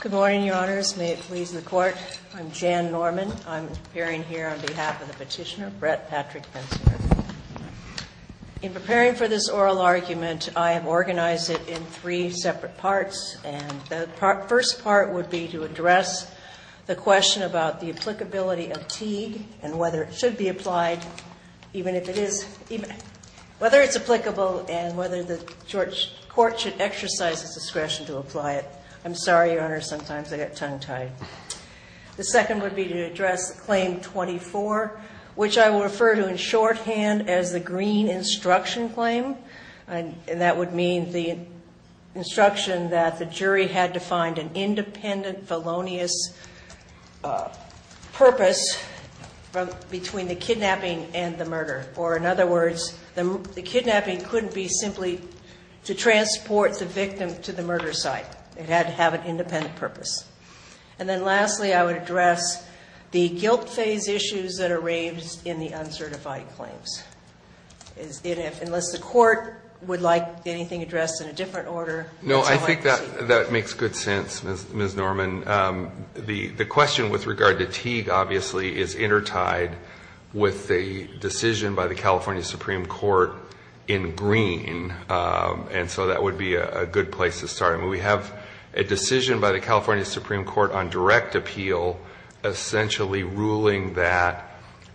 Good morning, Your Honors. May it please the Court, I'm Jan Norman. I'm appearing here on behalf of the petitioner, Brett Patrick Pensinger. In preparing for this oral argument, I have organized it in three separate parts, and the first part would be to address the question about the applicability of Teague and whether it should be applied, even if it is, whether it's applicable and whether the court should exercise its discretion to apply it. I'm sorry, Your Honor, sometimes I get tongue-tied. The second would be to address Claim 24, which I will refer to in shorthand as the Green Instruction Claim. That would mean the instruction that the jury had to find an independent felonious purpose between the kidnapping and the murder. Or in other words, the kidnapping couldn't be simply to transport the victim to the murder site. It had to have an independent purpose. And then lastly, I would address the guilt phase issues that are raised in the uncertified claims. Unless the court would like anything addressed in a different order, that's all I can say. That makes good sense, Ms. Norman. The question with regard to Teague, obviously, is intertied with the decision by the California Supreme Court in Green, and so that would be a good place to start. We have a decision by the California Supreme Court on direct appeal essentially ruling that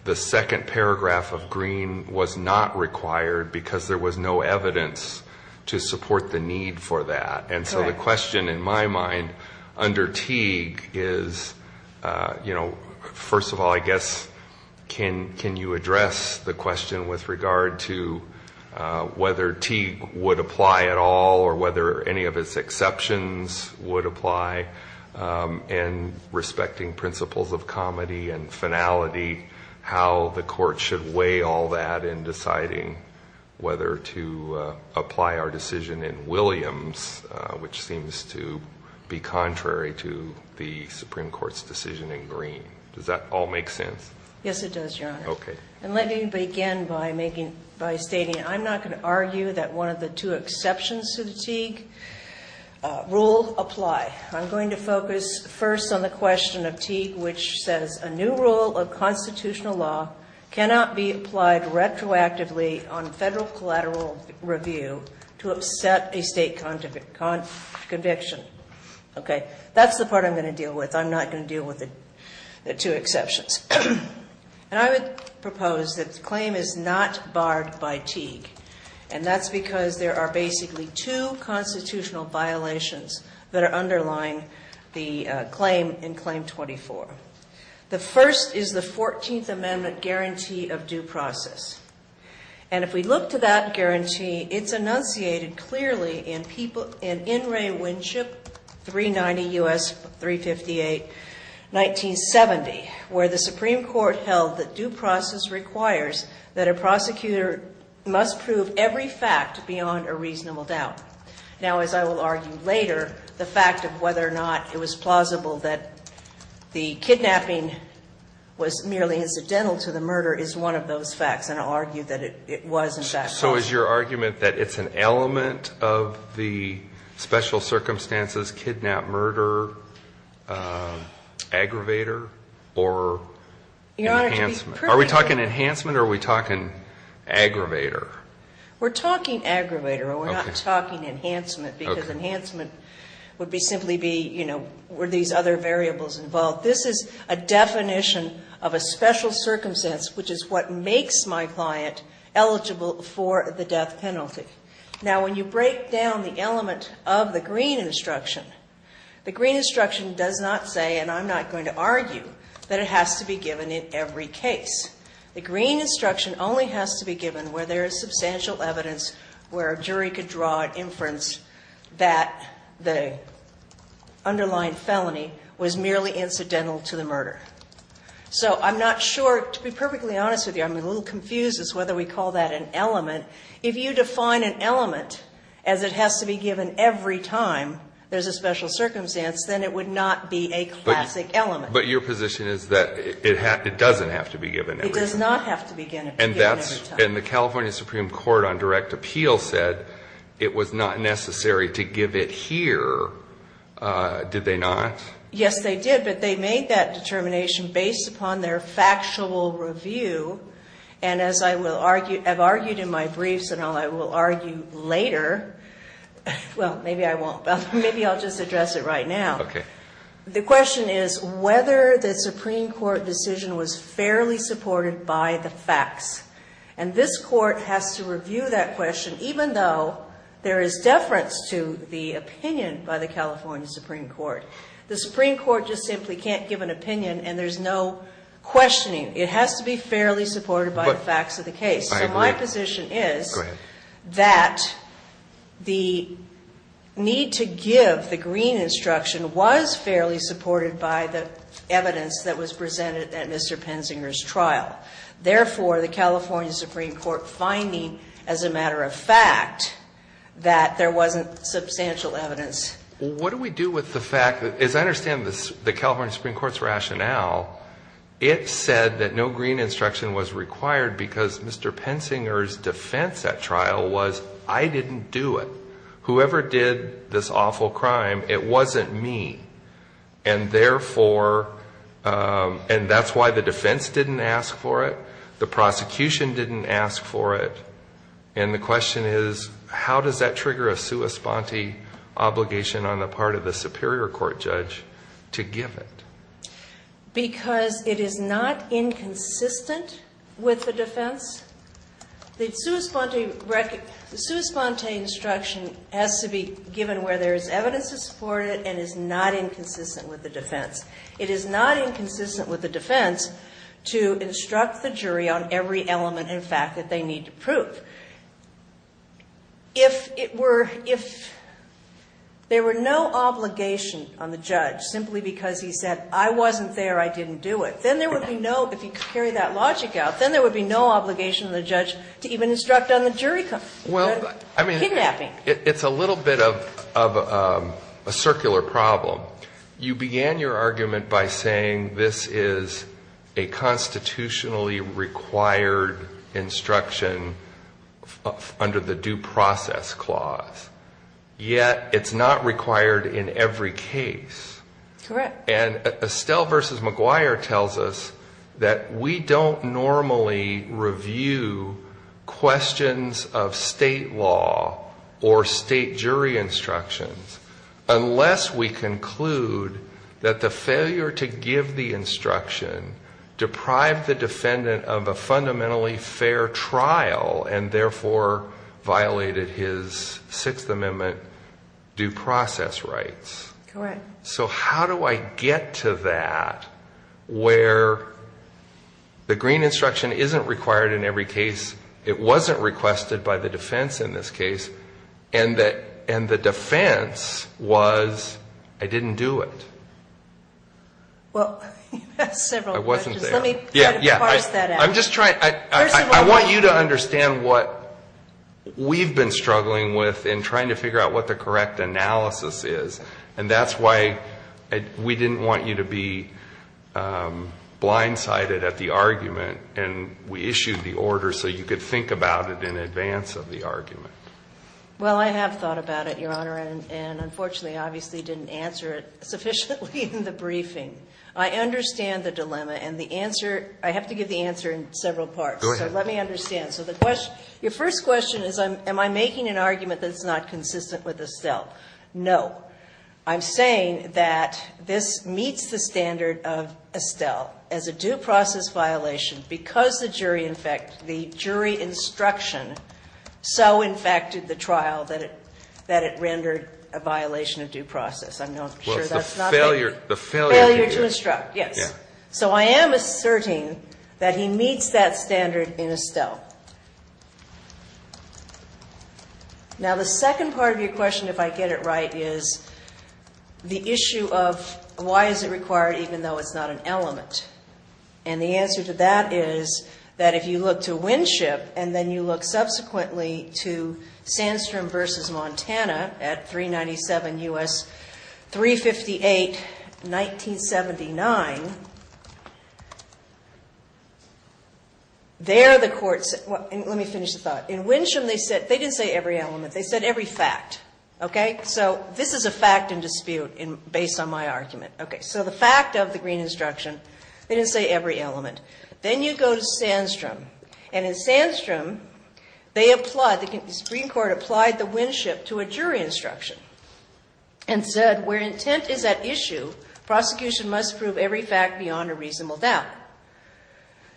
the second paragraph of Green was not required because there was no evidence to support the need for that. And so the question in my mind under Teague is, you know, first of all, I guess, can you address the question with regard to whether Teague would apply at all or whether any of its exceptions would apply in respecting principles of comity and finality, how the court should weigh all that in deciding whether to apply our decision in Williams, which seems to be contrary to the Supreme Court's decision in Green. Does that all make sense? Yes, it does, Your Honor. Okay. And let me begin by stating that I'm not going to argue that one of the two exceptions to the Teague rule apply. I'm going to focus first on the question of Teague, which says a new rule of constitutional law cannot be applied retroactively on Federal collateral review to upset a State conviction. Okay? That's the part I'm going to deal with. I'm not going to deal with the two exceptions. And I would propose that the claim is not barred by Teague, and that's because there are basically two constitutional violations that are underlying the claim in Claim 24. The first is the 14th Amendment guarantee of due process. And if we look to that guarantee, it's enunciated clearly in In Re Winship 390 U.S. 358 1970, where the Supreme Court held that due process requires that a prosecutor must prove every fact beyond a reasonable doubt. Now, as I will argue later, the fact of whether or not it was plausible that the kidnapping was merely incidental to the murder is one of those facts, and I'll argue that it was in fact plausible. So is your argument that it's an element of the special circumstances kidnap-murder aggravator or enhancement? Are we talking enhancement or are we talking aggravator? We're talking aggravator. We're not talking enhancement, because enhancement would be simply be, you know, were these other variables involved. This is a definition of a special circumstance, which is what makes my client eligible for the death penalty. Now, when you break down the element of the Green instruction, the Green instruction does not say, and I'm not going to argue, that it has to be given in every case. The Green instruction only has to be given where there is substantial evidence where a jury could draw an inference that the underlying felony was merely incidental to the murder. So I'm not sure, to be perfectly honest with you, I'm a little confused as to whether we call that an element. If you define an element as it has to be given every time there's a special circumstance, then it would not be a classic element. But your position is that it doesn't have to be given every time? It does not have to be given every time. And the California Supreme Court on direct appeal said it was not necessary to give it here, did they not? Yes, they did, but they made that determination based upon their factual review. And as I have argued in my briefs and I will argue later, well, maybe I won't. Now, the question is whether the Supreme Court decision was fairly supported by the facts. And this Court has to review that question even though there is deference to the opinion by the California Supreme Court. The Supreme Court just simply can't give an opinion and there's no questioning. It has to be fairly supported by the facts of the case. So my position is that the need to give the green instruction was fairly supported by the evidence that was presented at Mr. Penzinger's trial. Therefore, the California Supreme Court finding as a matter of fact that there wasn't substantial evidence. What do we do with the fact that, as I understand the California Supreme Court's defense at trial was, I didn't do it. Whoever did this awful crime, it wasn't me. And therefore, and that's why the defense didn't ask for it, the prosecution didn't ask for it, and the question is how does that trigger a sua sponte obligation on the part of the superior court judge to give it? Because it is not inconsistent with the defense. The sua sponte instruction has to be given where there is evidence to support it and is not inconsistent with the defense. It is not inconsistent with the defense to instruct the jury on every element and fact that they need to prove. If it were, if there were no obligation on the judge simply because he said I didn't do it, then there would be no, if you carry that logic out, then there would be no obligation on the judge to even instruct on the jury kidnapping. It's a little bit of a circular problem. You began your argument by saying this is a constitutionally required instruction under the due process clause, yet it's not required in every case. Correct. And Estelle versus McGuire tells us that we don't normally review questions of state law or state jury instructions unless we conclude that the failure to give the instruction deprived the defendant of a fundamentally fair trial and therefore violated his Sixth Amendment due process rights. Correct. So how do I get to that where the green instruction isn't required in every case, it wasn't requested by the defense in this case, and the defense was I didn't do it? Well, you've asked several questions. I wasn't there. Let me try to parse that out. I'm just trying, I want you to understand what we've been struggling with in trying to figure out what the correct analysis is, and that's why we didn't want you to be blindsided at the argument, and we issued the order so you could think about it in advance of the argument. Well, I have thought about it, Your Honor, and unfortunately obviously didn't answer it sufficiently in the briefing. I understand the dilemma, and the answer, I have to give the answer in several parts. Go ahead. Let me understand. So the question, your first question is am I making an argument that it's not consistent with Estelle? No. I'm saying that this meets the standard of Estelle as a due process violation because the jury, in fact, the jury instruction so infected the trial that it rendered a violation of due process. I'm not sure that's not the case. The failure to instruct. Yes. So I am asserting that he meets that standard in Estelle. Now, the second part of your question, if I get it right, is the issue of why is it required even though it's not an element? And the answer to that is that if you look to Winship and then you look subsequently to Sandstrom v. Montana at 397 U.S. 358, 1979, there the courts said, let me finish the thought, in Winship they said they didn't say every element. They said every fact, okay? So this is a fact and dispute based on my argument. Okay. So the fact of the Green instruction, they didn't say every element. Then you go to Sandstrom, and in Sandstrom, they applied, the Supreme Court applied the Winship to a jury instruction and said where intent is at issue, prosecution must prove every fact beyond a reasonable doubt.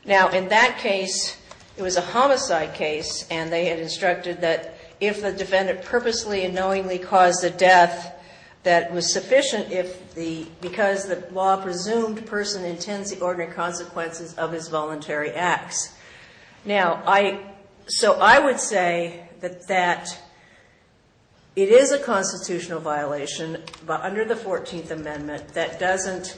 Now, in that case, it was a homicide case, and they had instructed that if the defendant purposely and knowingly caused a death that was sufficient because the law presumed the person intends the ordinary consequences of his voluntary acts. Now, so I would say that it is a constitutional violation, but under the 14th Amendment, that doesn't,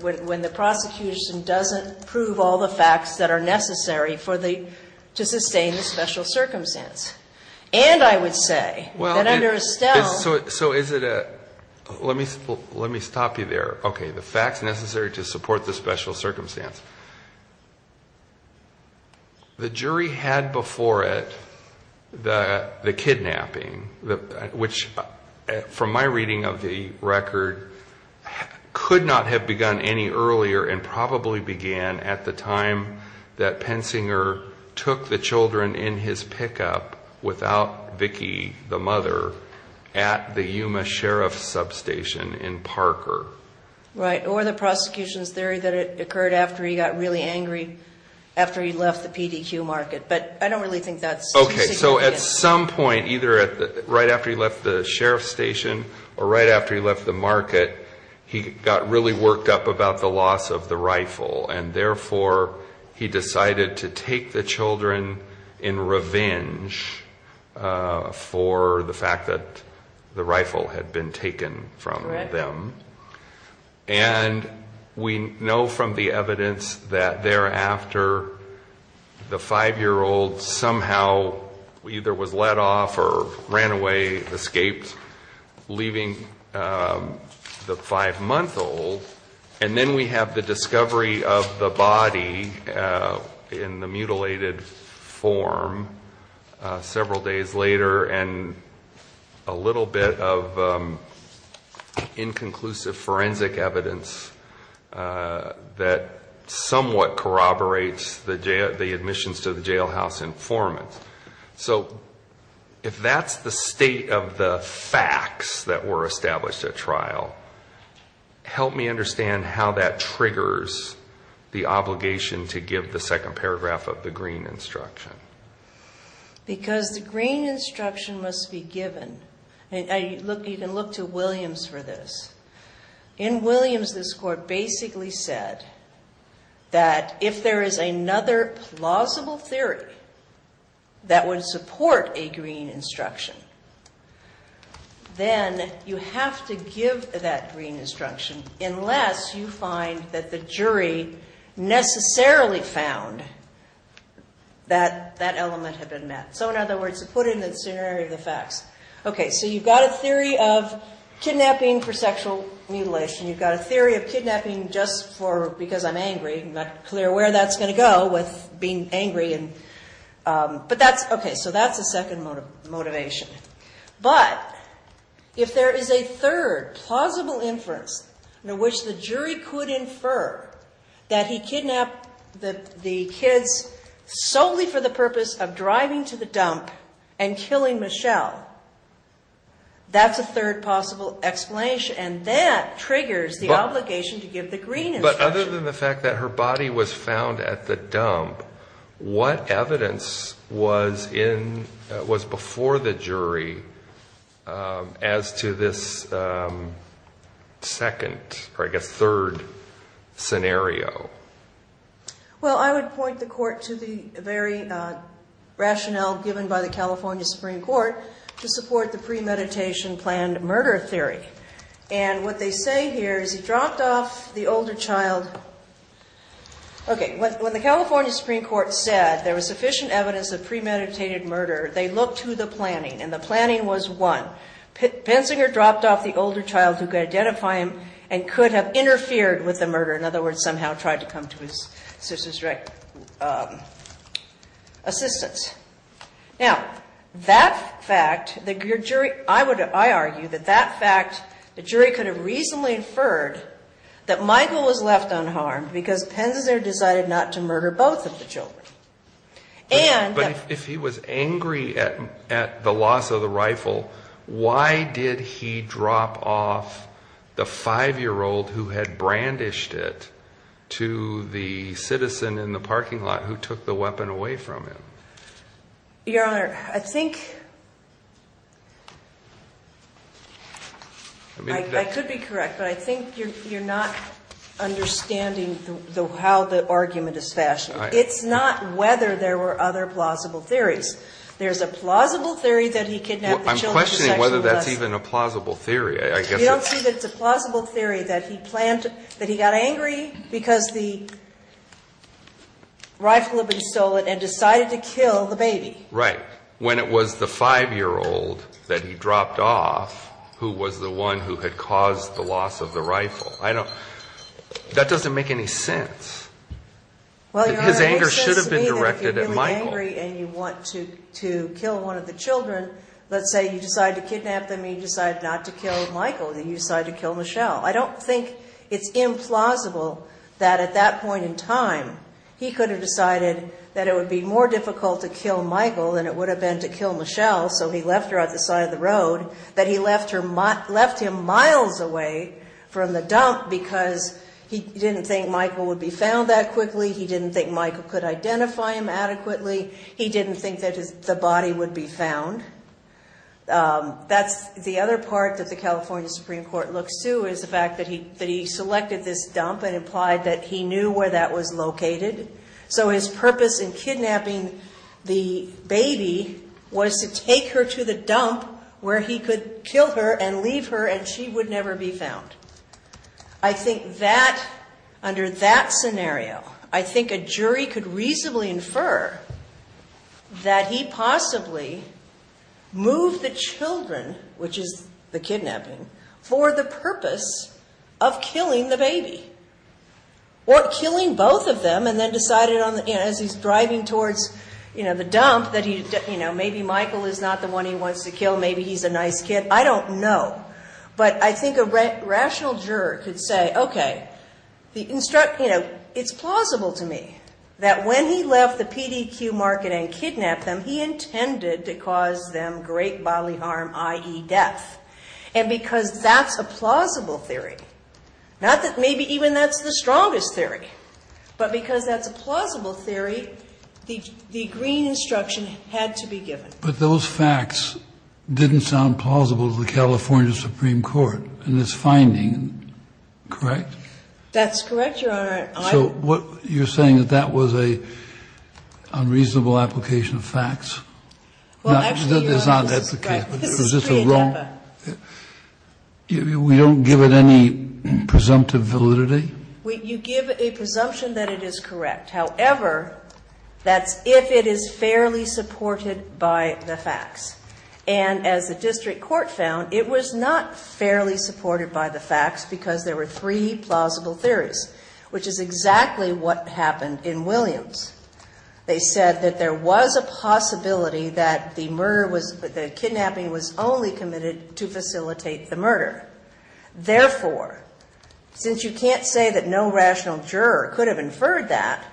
when the prosecution doesn't prove all the facts that are necessary for the, to sustain the special circumstance, and I would say that under Estelle- So is it a, let me stop you there. Okay, the facts necessary to support the special circumstance. The jury had before it the kidnapping, which from my reading of the record could not have begun any earlier and probably began at the time that Pensinger took the children in his pickup without Vicki, the mother, at the Yuma Sheriff's substation in Parker. Right, or the prosecution's theory that it occurred after he got really angry, after he left the PDQ market. Okay, so at some point, either right after he left the sheriff's station, or right after he left the market, he got really worked up about the loss of the rifle. And therefore, he decided to take the children in revenge for the fact that the rifle had been taken from them. And we know from the evidence that thereafter, the five year old somehow either was let off or ran away, escaped, leaving the five month old. And then we have the discovery of the body in the mutilated form several days later, and a little bit of the admissions to the jailhouse informant. So if that's the state of the facts that were established at trial, help me understand how that triggers the obligation to give the second paragraph of the green instruction. Because the green instruction must be given, and you can look to Williams for this. In Williams, this court basically said that if there is another plausible theory that would support a green instruction, then you have to give that green instruction, unless you find that the jury necessarily found that that element had been met. So in other words, to put it in the scenario of the facts. Okay, so you've got a theory of kidnapping for sexual mutilation. You've got a theory of kidnapping just for, because I'm angry, I'm not clear where that's gonna go with being angry and, but that's, okay. So that's the second motivation. But if there is a third plausible inference in which the jury could infer that he kidnapped the kids solely for the purpose of driving to the dump and that's a third possible explanation, and that triggers the obligation to give the green instruction. But other than the fact that her body was found at the dump, what evidence was before the jury as to this second or I guess third scenario? Well, I would point the court to the very rationale given by the California Supreme Court to support the premeditation planned murder theory. And what they say here is he dropped off the older child. Okay, when the California Supreme Court said there was sufficient evidence of premeditated murder, they looked to the planning, and the planning was one. Pensinger dropped off the older child who could identify him and could have interfered with the murder. In other words, somehow tried to come to his sister's assistance. Now, that fact, I argue that that fact, the jury could have reasonably inferred that Michael was left unharmed because Pensinger decided not to murder both of the children. And- But if he was angry at the loss of the rifle, why did he drop off the five-year-old who had brandished it to the citizen in the parking lot who took the weapon away from him? Your Honor, I think, I could be correct, but I think you're not understanding how the argument is fashioned. It's not whether there were other plausible theories. There's a plausible theory that he kidnapped the children. I'm questioning whether that's even a plausible theory. You don't see that it's a plausible theory that he planned, that he got angry because the rifle had been stolen and decided to kill the baby. Right. When it was the five-year-old that he dropped off who was the one who had caused the loss of the rifle. I don't, that doesn't make any sense. Well, Your Honor, it makes sense to me that if you're really angry and you want to kill one of the children, let's say you decide to kidnap them and you decide not to kill Michael, then you decide to kill Michelle. I don't think it's implausible that at that point in time, he could have decided that it would be more difficult to kill Michael than it would have been to kill Michelle. So he left her at the side of the road. That he left him miles away from the dump because he didn't think Michael would be found that quickly. He didn't think Michael could identify him adequately. He didn't think that the body would be found. That's the other part that the California Supreme Court looks to is the fact that he selected this dump and implied that he knew where that was located. So his purpose in kidnapping the baby was to take her to the dump where he could kill her and leave her and she would never be found. I think that, under that scenario, I think a jury could reasonably infer that he possibly moved the children, which is the kidnapping, for the purpose of killing the baby. Or killing both of them and then decided as he's driving towards the dump that maybe Michael is not the one he wants to kill. Maybe he's a nice kid. I don't know. But I think a rational juror could say, okay, it's plausible to me that when he left the PDQ market and kidnapped them, he intended to cause them great bodily harm, i.e. death. And because that's a plausible theory, not that maybe even that's the strongest theory, but because that's a plausible theory, the green instruction had to be given. But those facts didn't sound plausible to the California Supreme Court in this finding, correct? That's correct, Your Honor. So what you're saying is that was an unreasonable application of facts? Well, actually, Your Honor, this is true in DEPA. We don't give it any presumptive validity? You give a presumption that it is correct. However, that's if it is fairly supported by the facts. And as the district court found, it was not fairly supported by the facts because there were three plausible theories. Which is exactly what happened in Williams. They said that there was a possibility that the murder was, that the kidnapping was only committed to facilitate the murder. Therefore, since you can't say that no rational juror could have inferred that,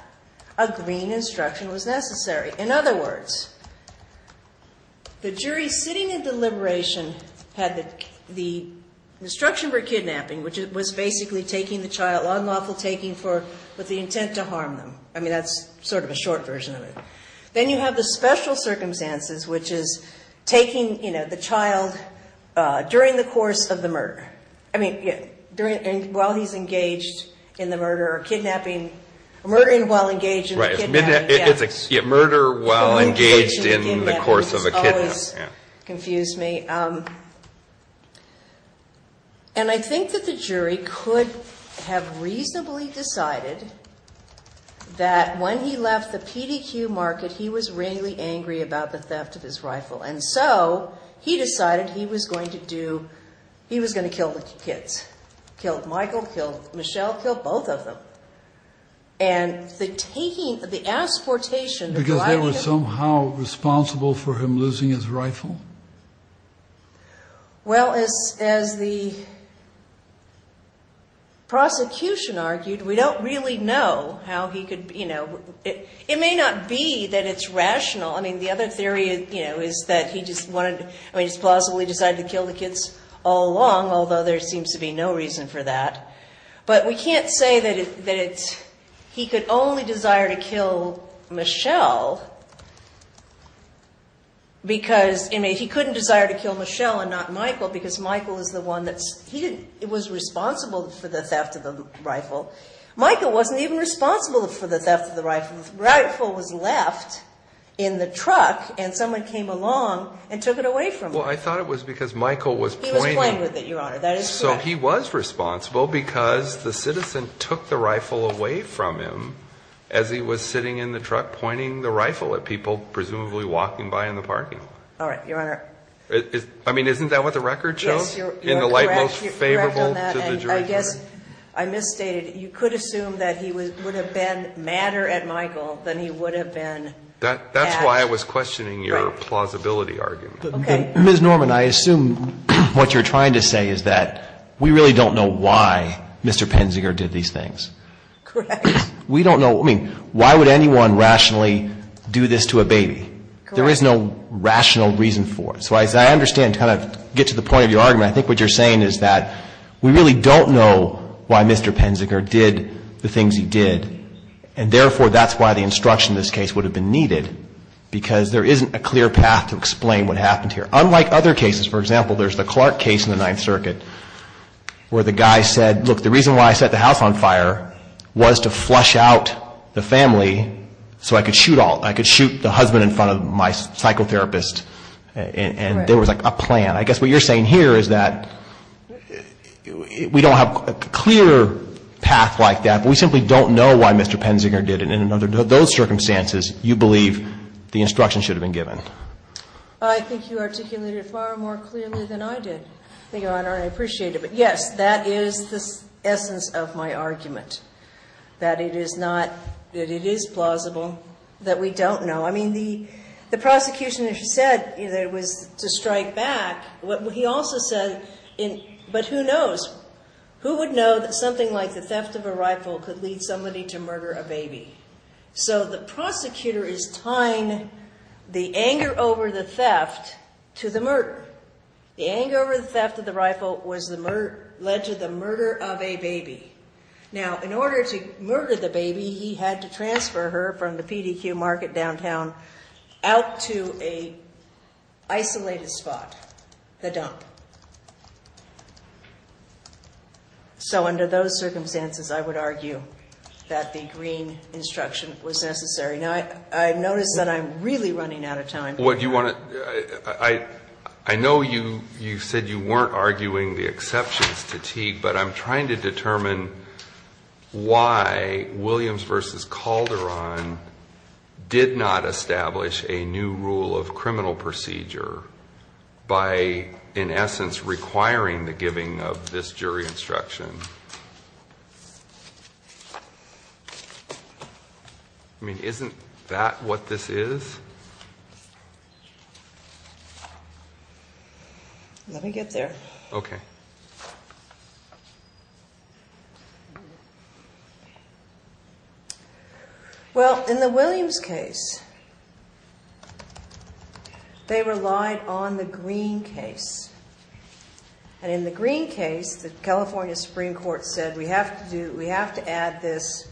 a green instruction was necessary. In other words, the jury sitting in deliberation had the instruction for lawful taking with the intent to harm them. I mean, that's sort of a short version of it. Then you have the special circumstances, which is taking the child during the course of the murder. I mean, while he's engaged in the murder or kidnapping, or murdering while engaged in the kidnapping. Right, it's murder while engaged in the course of a kidnap. It's always confused me. And I think that the jury could have reasonably decided that when he left the PDQ market, he was really angry about the theft of his rifle. And so he decided he was going to do, he was going to kill the kids. Killed Michael, killed Michelle, killed both of them. And the taking, the asportation of the rifle- Well, as the prosecution argued, we don't really know how he could, it may not be that it's rational, I mean, the other theory is that he just wanted, I mean, just plausibly decided to kill the kids all along, although there seems to be no reason for that. But we can't say that he could only desire to kill Michelle. Because, I mean, he couldn't desire to kill Michelle and not Michael, because Michael is the one that's, he was responsible for the theft of the rifle. Michael wasn't even responsible for the theft of the rifle. The rifle was left in the truck, and someone came along and took it away from him. Well, I thought it was because Michael was pointing- He was playing with it, Your Honor, that is correct. So he was responsible because the citizen took the rifle away from him as he was sitting in the truck pointing the rifle at people, presumably walking by in the parking. All right, Your Honor. I mean, isn't that what the record shows? Yes, you're correct on that, and I guess I misstated. You could assume that he would have been madder at Michael than he would have been at- That's why I was questioning your plausibility argument. Okay. Ms. Norman, I assume what you're trying to say is that we really don't know why Mr. Penziger did these things. Correct. We don't know- I mean, why would anyone rationally do this to a baby? There is no rational reason for it. So as I understand, to kind of get to the point of your argument, I think what you're saying is that we really don't know why Mr. Penziger did the things he did, and therefore, that's why the instruction in this case would have been needed because there isn't a clear path to explain what happened here. Unlike other cases, for example, there's the Clark case in the Ninth Circuit where the guy said, look, the reason why I set the house on fire was to flush out the family so I could shoot all- I could shoot the husband in front of my psychotherapist, and there was a plan. I guess what you're saying here is that we don't have a clear path like that, but we simply don't know why Mr. Penziger did it, and in those circumstances, you believe the instruction should have been given. I think you articulated it far more clearly than I did, Your Honor, and I appreciate it. But yes, that is the essence of my argument, that it is not- that it is plausible that we don't know. I mean, the prosecution, as you said, that it was to strike back, he also said, but who knows? Who would know that something like the theft of a rifle could lead somebody to murder a baby? So the prosecutor is tying the anger over the theft to the murder. The anger over the theft of the rifle led to the murder of a baby. Now, in order to murder the baby, he had to transfer her from the PDQ market downtown out to a isolated spot, the dump. So under those circumstances, I would argue that the green instruction was necessary. Now, I've noticed that I'm really running out of time. What do you want to- I know you said you weren't arguing the exceptions to Teague, but I'm trying to determine why Williams v. Calderon did not establish a new rule of criminal procedure by, in essence, requiring the giving of this jury instruction. I mean, isn't that what this is? Let me get there. Okay. Well, in the Williams case, they relied on the green case. And in the green case, the California Supreme Court said, we have to add this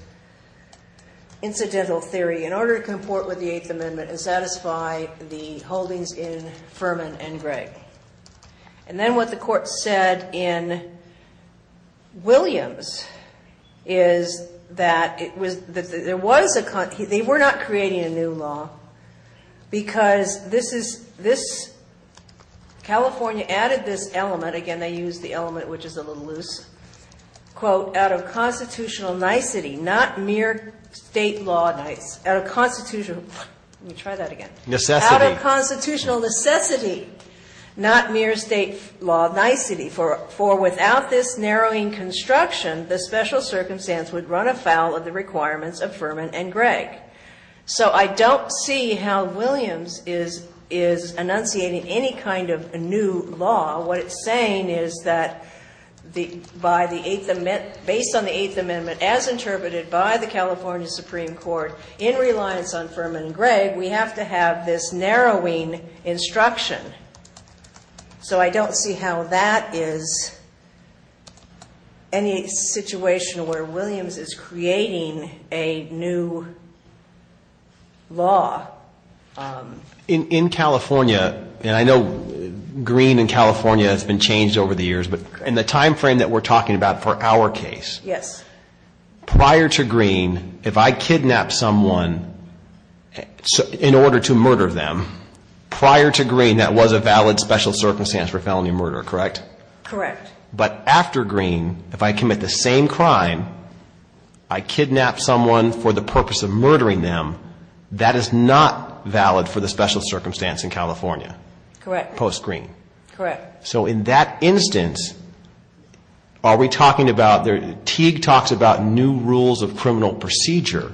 incidental theory in order to comport with the Eighth Amendment and satisfy the holdings in Furman and Gregg. And then what the court said in Williams is that it was- there was a- they were not creating a new law because this is- this- California added this element. Again, they used the element which is a little loose. Quote, out of constitutional nicety, not mere state law nice. Out of constitutional- let me try that again. Necessity. Out of constitutional necessity, not mere state law nicety. For without this narrowing construction, the special circumstance would run afoul of the requirements of Furman and Gregg. So I don't see how Williams is enunciating any kind of new law. What it's saying is that by the Eighth Amendment- based on the Eighth Amendment as interpreted by the California Supreme Court in reliance on Furman and Gregg, we have to have this narrowing instruction. So I don't see how that is any situation where Williams is creating a new law. In California, and I know green in California has been changed over the years, but in the time frame that we're talking about for our case- prior to green, if I kidnap someone in order to murder them, prior to green that was a valid special circumstance for felony murder, correct? Correct. But after green, if I commit the same crime, I kidnap someone for the purpose of murdering them, that is not valid for the special circumstance in California. Correct. Post green. Correct. So in that instance, are we talking about- Teague talks about new rules of criminal procedure.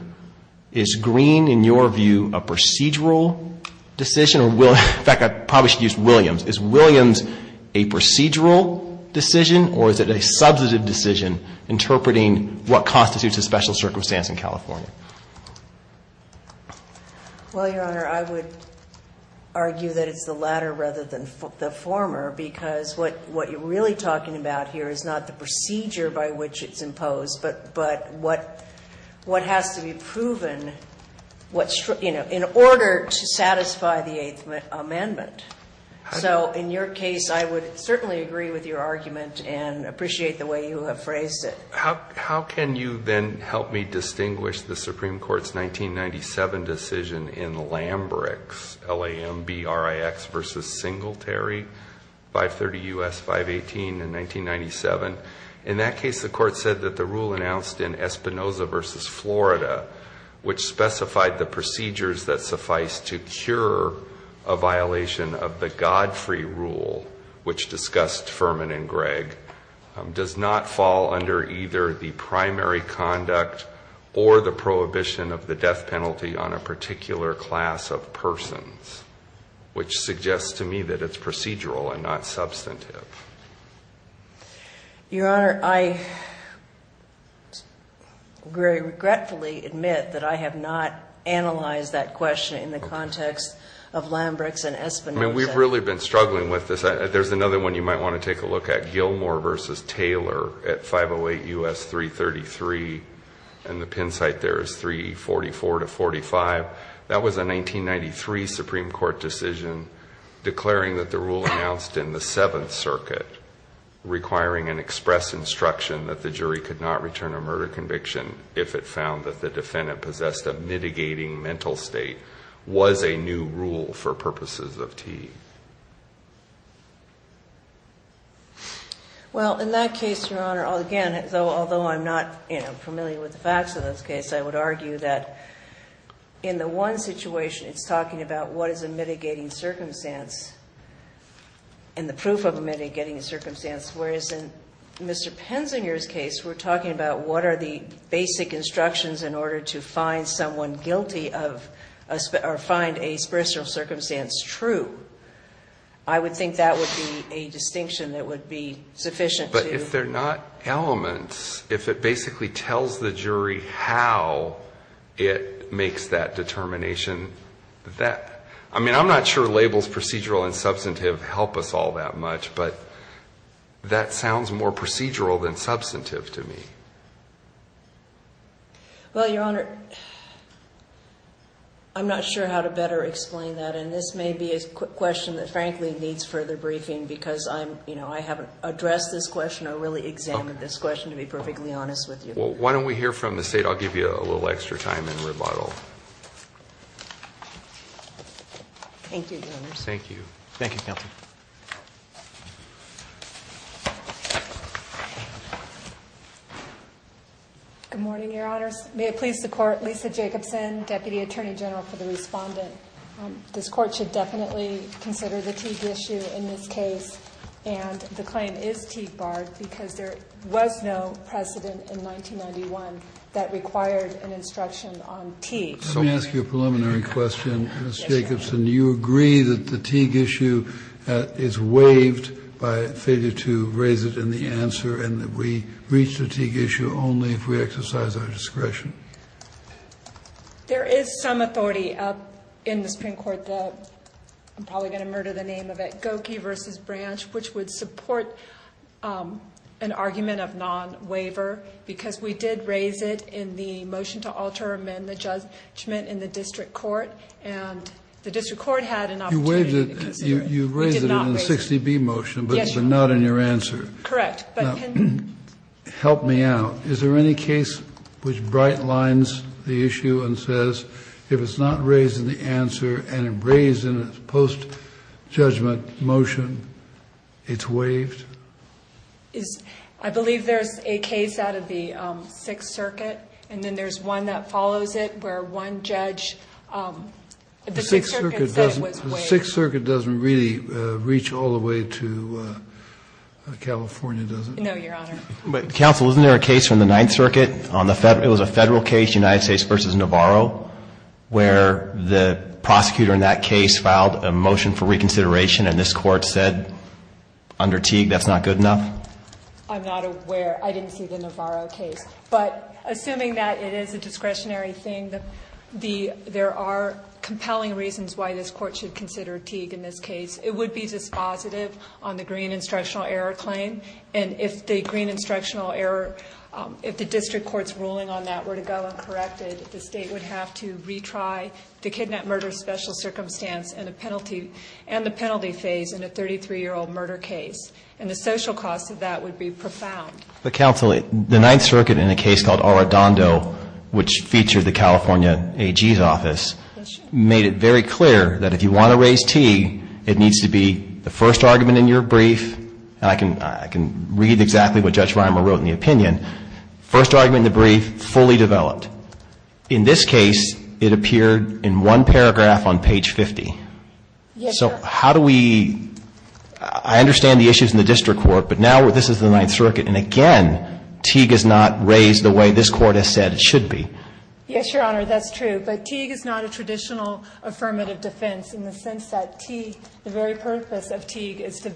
Is green, in your view, a procedural decision? In fact, I probably should use Williams. Is Williams a procedural decision or is it a substantive decision interpreting what constitutes a special circumstance in California? Well, Your Honor, I would argue that it's the latter rather than the former because what you're really talking about here is not the procedure by which it's imposed, but what has to be proven in order to satisfy the Eighth Amendment. So in your case, I would certainly agree with your argument and appreciate the way you have phrased it. How can you then help me distinguish the Supreme Court's 1997 decision in Lambrix, L-A-M-B-R-I-X versus Singletary, 530 U.S. 518 in 1997? In that case, the court said that the rule announced in Espinoza versus Florida, which specified the procedures that suffice to cure a violation of the God-free rule, which discussed Furman and Gregg, does not fall under either the primary which suggests to me that it's procedural and not substantive. Your Honor, I very regretfully admit that I have not analyzed that question in the context of Lambrix and Espinoza. I mean, we've really been struggling with this. There's another one you might want to take a look at, Gilmore versus Taylor at 508 U.S. 333, and the pin site there is 344 to 45. That was a 1993 Supreme Court decision declaring that the rule announced in the Seventh Circuit requiring an express instruction that the jury could not return a murder conviction if it found that the defendant possessed a mitigating mental state was a new rule for purposes of T. Well, in that case, Your Honor, again, although I'm not familiar with the facts of this case, I would argue that in the one situation it's talking about what is a mitigating circumstance and the proof of a mitigating circumstance, whereas in Mr. Penzinger's case we're talking about what are the basic instructions in order to find someone guilty of or find a spiritual circumstance true. I would think that would be a distinction that would be sufficient to. If they're not elements, if it basically tells the jury how it makes that determination, I mean, I'm not sure labels procedural and substantive help us all that much, but that sounds more procedural than substantive to me. Well, Your Honor, I'm not sure how to better explain that, and this may be a question that frankly needs further briefing because I haven't addressed this question. I really examined this question to be perfectly honest with you. Well, why don't we hear from the State? I'll give you a little extra time in rebuttal. Thank you, Your Honor. Thank you. Thank you, Counsel. Good morning, Your Honors. May it please the Court, Lisa Jacobson, Deputy Attorney General for the Respondent. This Court should definitely consider the Teague issue in this case. And the claim is Teague-barred because there was no precedent in 1991 that required an instruction on Teague. Let me ask you a preliminary question, Ms. Jacobson. Do you agree that the Teague issue is waived by failure to raise it in the answer and that we reach the Teague issue only if we exercise our discretion? There is some authority in the Supreme Court that I'm probably going to murder the name of it, Gokey v. Branch, which would support an argument of non-waiver because we did raise it in the motion to alter or amend the judgment in the district court, and the district court had an opportunity to consider it. You raised it in the 60B motion but not in your answer. Correct. Now, help me out. Is there any case which bright lines the issue and says if it's not raised in the answer and it's raised in a post-judgment motion, it's waived? I believe there's a case out of the Sixth Circuit, and then there's one that follows it where one judge at the Sixth Circuit said it was waived. The Sixth Circuit doesn't really reach all the way to California, does it? No, Your Honor. But, counsel, isn't there a case from the Ninth Circuit, it was a Federal case, United States v. Navarro, where the prosecutor in that case filed a motion for reconsideration and this Court said under Teague that's not good enough? I'm not aware. I didn't see the Navarro case. But assuming that it is a discretionary thing, there are compelling reasons why this Court should consider Teague in this case. It would be dispositive on the green instructional error claim. And if the green instructional error, if the district court's ruling on that were to go uncorrected, the State would have to retry the kidnap-murder-special circumstance and the penalty phase in a 33-year-old murder case. And the social cost of that would be profound. But, counsel, the Ninth Circuit in a case called Arradondo, which featured the California AG's office, made it very clear that if you want to raise Teague, it needs to be the first argument in your brief. And I can read exactly what Judge Reimer wrote in the opinion. First argument in the brief, fully developed. In this case, it appeared in one paragraph on page 50. So how do we – I understand the issues in the district court, but now this is the Ninth Circuit, and again, Teague is not raised the way this Court has said it should be. Yes, Your Honor, that's true. But Teague is not a traditional affirmative defense in the sense that Teague, the very purpose of Teague, is to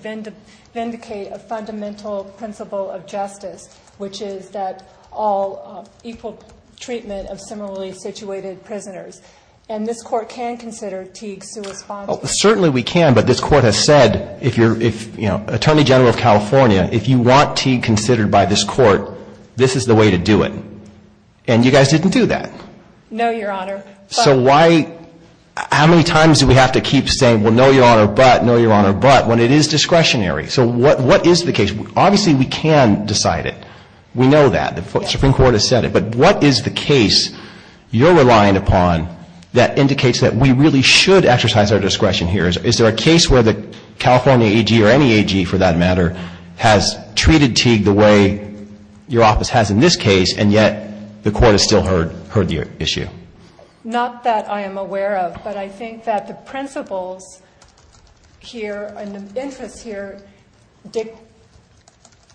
vindicate a fundamental principle of justice, which is that all equal treatment of similarly situated prisoners. And this Court can consider Teague suesponding. Well, certainly we can, but this Court has said, if you're, you know, Attorney General of California, if you want Teague considered by this Court, this is the way to do it. And you guys didn't do that. No, Your Honor. So why – how many times do we have to keep saying, well, no, Your Honor, but, no, Your Honor, but, when it is discretionary? So what is the case? Obviously, we can decide it. We know that. The Supreme Court has said it. But what is the case you're relying upon that indicates that we really should exercise our discretion here? Is there a case where the California AG, or any AG for that matter, has treated Teague the way your office has in this case, and yet the Court has still heard your issue? Not that I am aware of. But I think that the principles here and the interests here,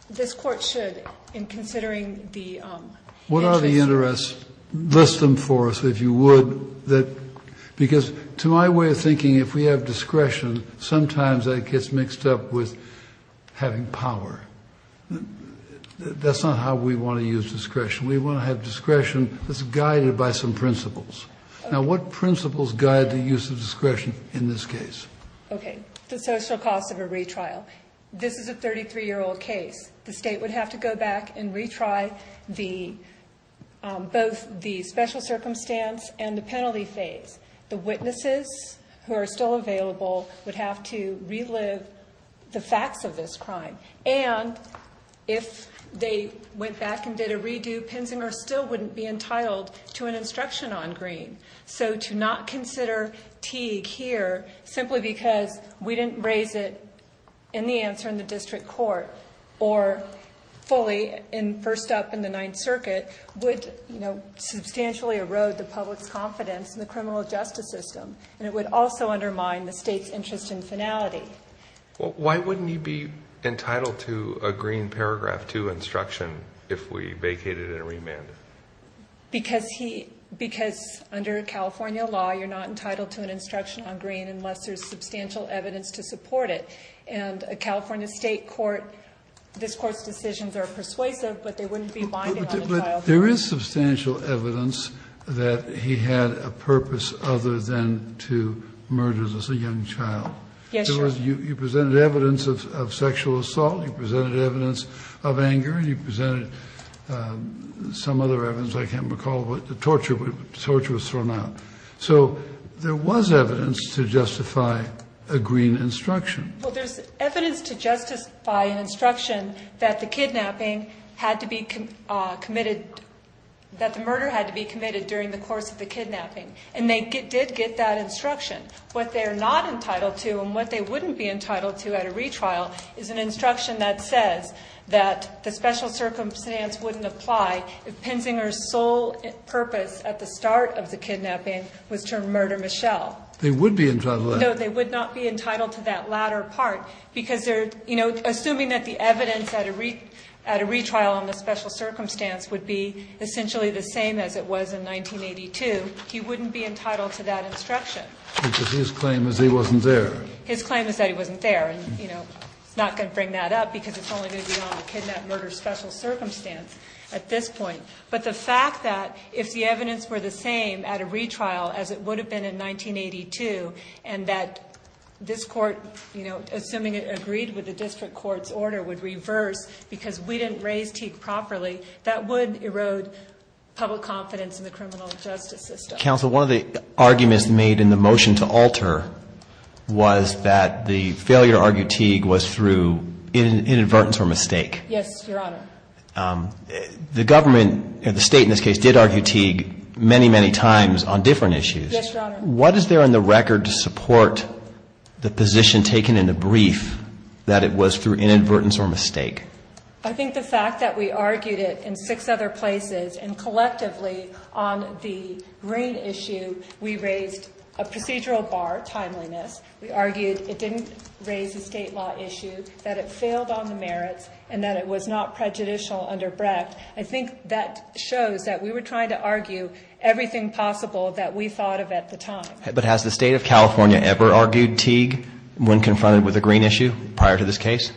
this Court should, in considering the interests. What are the interests? List them for us, if you would. Because to my way of thinking, if we have discretion, sometimes that gets mixed up with having power. That's not how we want to use discretion. We want to have discretion that's guided by some principles. Now, what principles guide the use of discretion in this case? Okay. The social cost of a retrial. This is a 33-year-old case. The State would have to go back and retry both the special circumstance and the penalty phase. The witnesses who are still available would have to relive the facts of this crime. And if they went back and did a redo, Pinsinger still wouldn't be entitled to an instruction on Green. So to not consider Teague here, simply because we didn't raise it in the answer in the District Court, or fully in first up in the Ninth Circuit, would substantially erode the public's confidence in the criminal justice system. And it would also undermine the State's interest in finality. Why wouldn't he be entitled to a Green paragraph 2 instruction if we vacated and remanded? Because under California law, you're not entitled to an instruction on Green unless there's substantial evidence to support it. And a California State court, this Court's decisions are persuasive, but they wouldn't be binding on the child. But there is substantial evidence that he had a purpose other than to murder this young child. Yes, sir. You presented evidence of sexual assault. You presented evidence of anger. You presented some other evidence. I can't recall what the torture was thrown out. So there was evidence to justify a Green instruction. Well, there's evidence to justify an instruction that the murder had to be committed during the course of the kidnapping. And they did get that instruction. What they're not entitled to and what they wouldn't be entitled to at a retrial is an instruction that says that the special circumstance wouldn't apply if Penzinger's sole purpose at the start of the kidnapping was to murder Michelle. They would be entitled to that. No, they would not be entitled to that latter part because they're, you know, assuming that the evidence at a retrial on the special circumstance would be essentially the same as it was in 1982, he wouldn't be entitled to that because his claim is he wasn't there. His claim is that he wasn't there and, you know, he's not going to bring that up because it's only going to be on a kidnap-murder special circumstance at this point. But the fact that if the evidence were the same at a retrial as it would have been in 1982 and that this court, you know, assuming it agreed with the district court's order, would reverse because we didn't raise Teague properly, that would erode public confidence in the criminal justice system. Counsel, one of the arguments made in the motion to alter was that the failure to argue Teague was through inadvertence or mistake. Yes, Your Honor. The government, the State in this case, did argue Teague many, many times on different issues. Yes, Your Honor. What is there on the record to support the position taken in the brief that it was through inadvertence or mistake? I think the fact that we argued it in six other places and collectively on the green issue we raised a procedural bar, timeliness. We argued it didn't raise the state law issue, that it failed on the merits, and that it was not prejudicial under Brecht. I think that shows that we were trying to argue everything possible that we thought of at the time. But has the State of California ever argued Teague when confronted with a green issue prior to this case?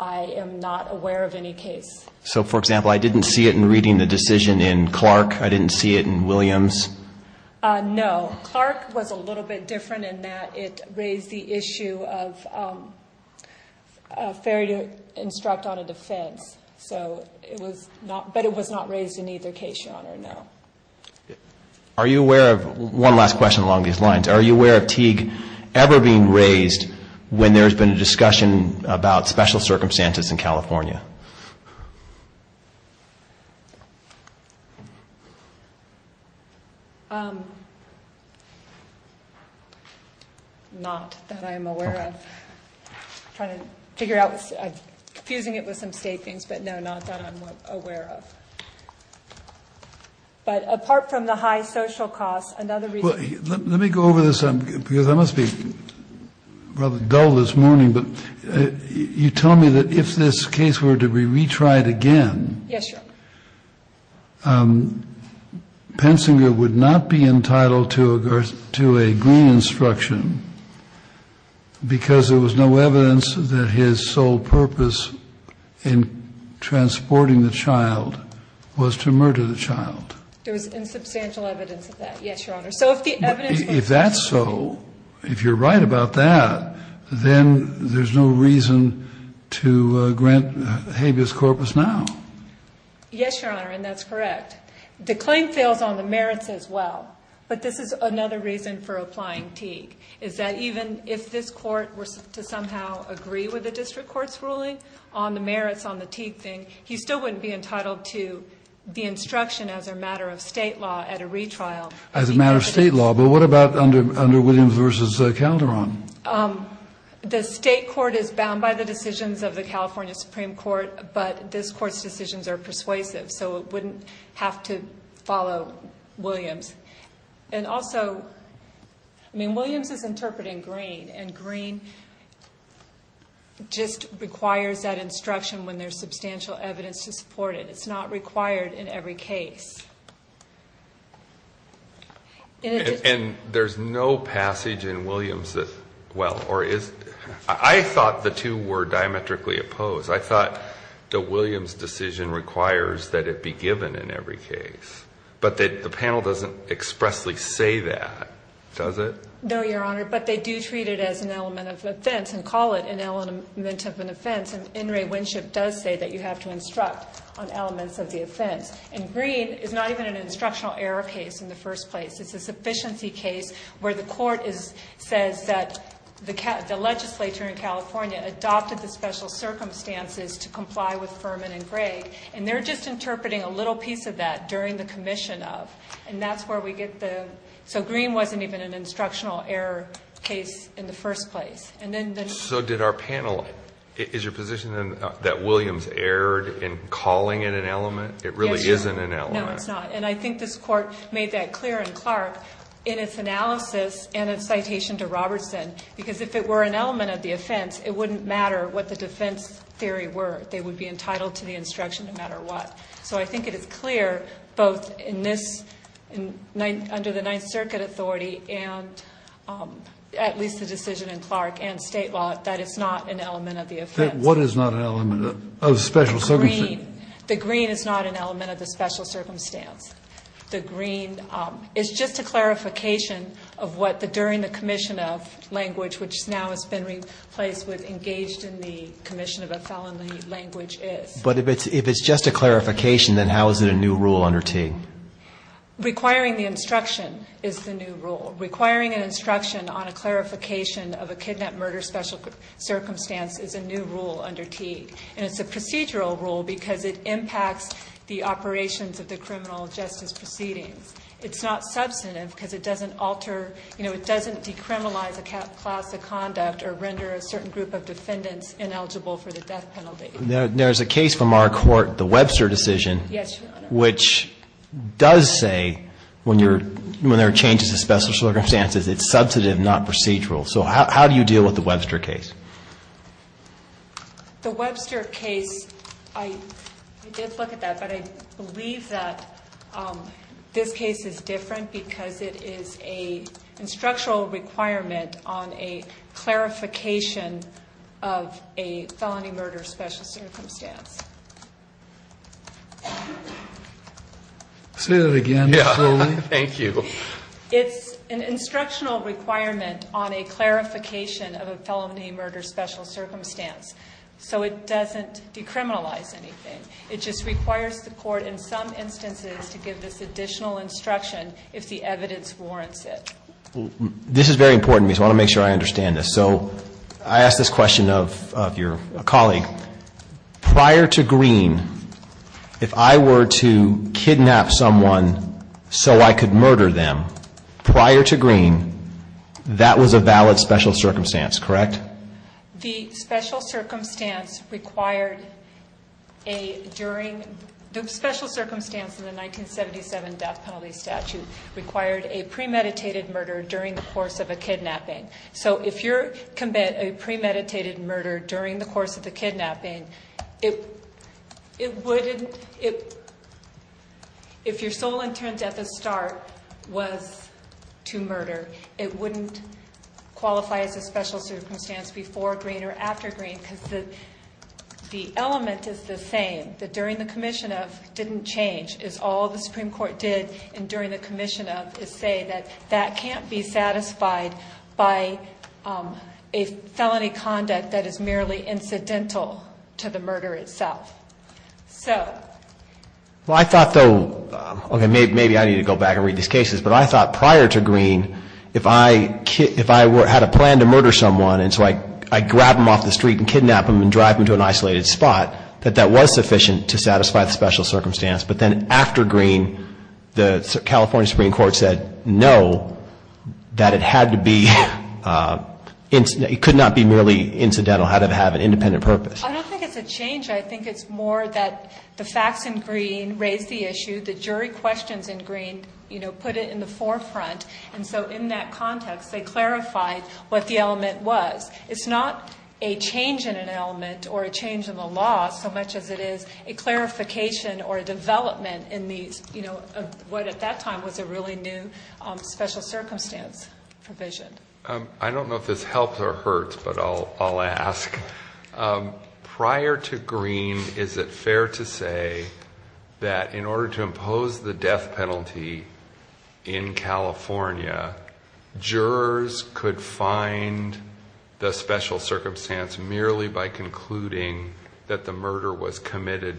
I am not aware of any case. So, for example, I didn't see it in reading the decision in Clark. I didn't see it in Williams. No. Clark was a little bit different in that it raised the issue of fair to instruct on a defense. So it was not, but it was not raised in either case, Your Honor, no. Are you aware of, one last question along these lines, are you aware of Teague ever being raised when there has been a discussion about special circumstances in California? Not that I am aware of. I'm trying to figure out, I'm confusing it with some state things, but no, not that I'm aware of. But apart from the high social costs, another reason. Let me go over this, because I must be rather dull this morning, but you tell me that if this case were to be retried again. Yes, Your Honor. Pensinger would not be entitled to a green instruction because there was no evidence that his sole purpose in transporting the child was to murder the child. There was insubstantial evidence of that. Yes, Your Honor. If that's so, if you're right about that, then there's no reason to grant habeas corpus now. Yes, Your Honor, and that's correct. The claim fails on the merits as well. But this is another reason for applying Teague, is that even if this Court were to somehow agree with the district court's ruling on the merits on the Teague thing, he still wouldn't be entitled to the instruction as a matter of state law at a retrial. As a matter of state law, but what about under Williams v. Calderon? The state court is bound by the decisions of the California Supreme Court, but this Court's decisions are persuasive, so it wouldn't have to follow Williams. And also, I mean, Williams is interpreting green, and green just requires that instruction when there's substantial evidence to support it. It's not required in every case. And there's no passage in Williams that, well, or is, I thought the two were diametrically opposed. I thought that Williams' decision requires that it be given in every case, but the panel doesn't expressly say that, does it? No, Your Honor, but they do treat it as an element of offense and call it an element of an offense, and In re Winship does say that you have to instruct on elements of the offense. And green is not even an instructional error case in the first place. It's a sufficiency case where the court is, says that the legislature in California adopted the special circumstances to comply with Furman and Gregg, and they're just interpreting a little piece of that during the commission of, and that's where we get the, so green wasn't even an instructional error case in the first place. So did our panel, is your position that Williams erred in calling it an element? It really isn't an element. No, it's not. And I think this court made that clear in Clark in its analysis and its citation to Robertson, because if it were an element of the offense, it wouldn't matter what the defense theory were. They would be entitled to the instruction no matter what. So I think it is clear both in this, under the Ninth Circuit authority and at least the decision in Clark and state law that it's not an element of the offense. What is not an element of special circumstances? The green is not an element of the special circumstance. The green is just a clarification of what the, during the commission of language, which now has been replaced with engaged in the commission of a felony language is. But if it's just a clarification, then how is it a new rule under T? Requiring the instruction is the new rule. Requiring an instruction on a clarification of a kidnap murder special circumstance is a new rule under T. And it's a procedural rule because it impacts the operations of the criminal justice proceedings. It's not substantive because it doesn't alter, you know, it doesn't decriminalize a class of conduct or render a certain group of defendants ineligible for the death penalty. There's a case from our court, the Webster decision, which does say when you're, when there are changes to special circumstances, it's substantive, not procedural. So how do you deal with the Webster case? The Webster case. I did look at that, but I believe that this case is different because it is a instructional requirement on a clarification of a felony murder special circumstance. Say that again. Thank you. It's an instructional requirement on a clarification of a felony murder special circumstance. So it doesn't decriminalize anything. It just requires the court in some instances to give this additional instruction if the evidence warrants it. This is very important to me, so I want to make sure I understand this. So I asked this question of your colleague. Prior to Green, if I were to kidnap someone so I could murder them, prior to Green, that was a valid special circumstance, correct? The special circumstance required a, during the special circumstance in the 1977 death penalty statute, required a premeditated murder during the course of a kidnapping. So if you commit a premeditated murder during the course of the kidnapping, it wouldn't, if your sole intent at the start was to murder, it wouldn't qualify as a special circumstance before Green or after Green because the element is the same, that during the commission of didn't change is all the Supreme Court did and during the commission of is say that that can't be satisfied by a felony conduct that is merely incidental to the murder itself. So. Well, I thought though, okay, maybe I need to go back and read these cases, but I thought prior to Green, if I, if I were, had a plan to murder someone and so I grab them off the street and kidnap them and drive them to an isolated spot, that that was sufficient to satisfy the special circumstance. But then after Green, the California Supreme Court said, no, that it had to be, it could not be merely incidental. It had to have an independent purpose. I don't think it's a change. I think it's more that the facts in Green raise the issue. The jury questions in Green, you know, put it in the forefront. And so in that context, they clarified what the element was. It's not a change in an element or a change in the law so much as it is a clarification or a development in these, you know, what at that time was a really new special circumstance provision. I don't know if this helps or hurts, but I'll, I'll ask. Prior to Green, is it fair to say that in order to impose the death penalty in California, jurors could find the special circumstance merely by concluding that the death penalty had been imposed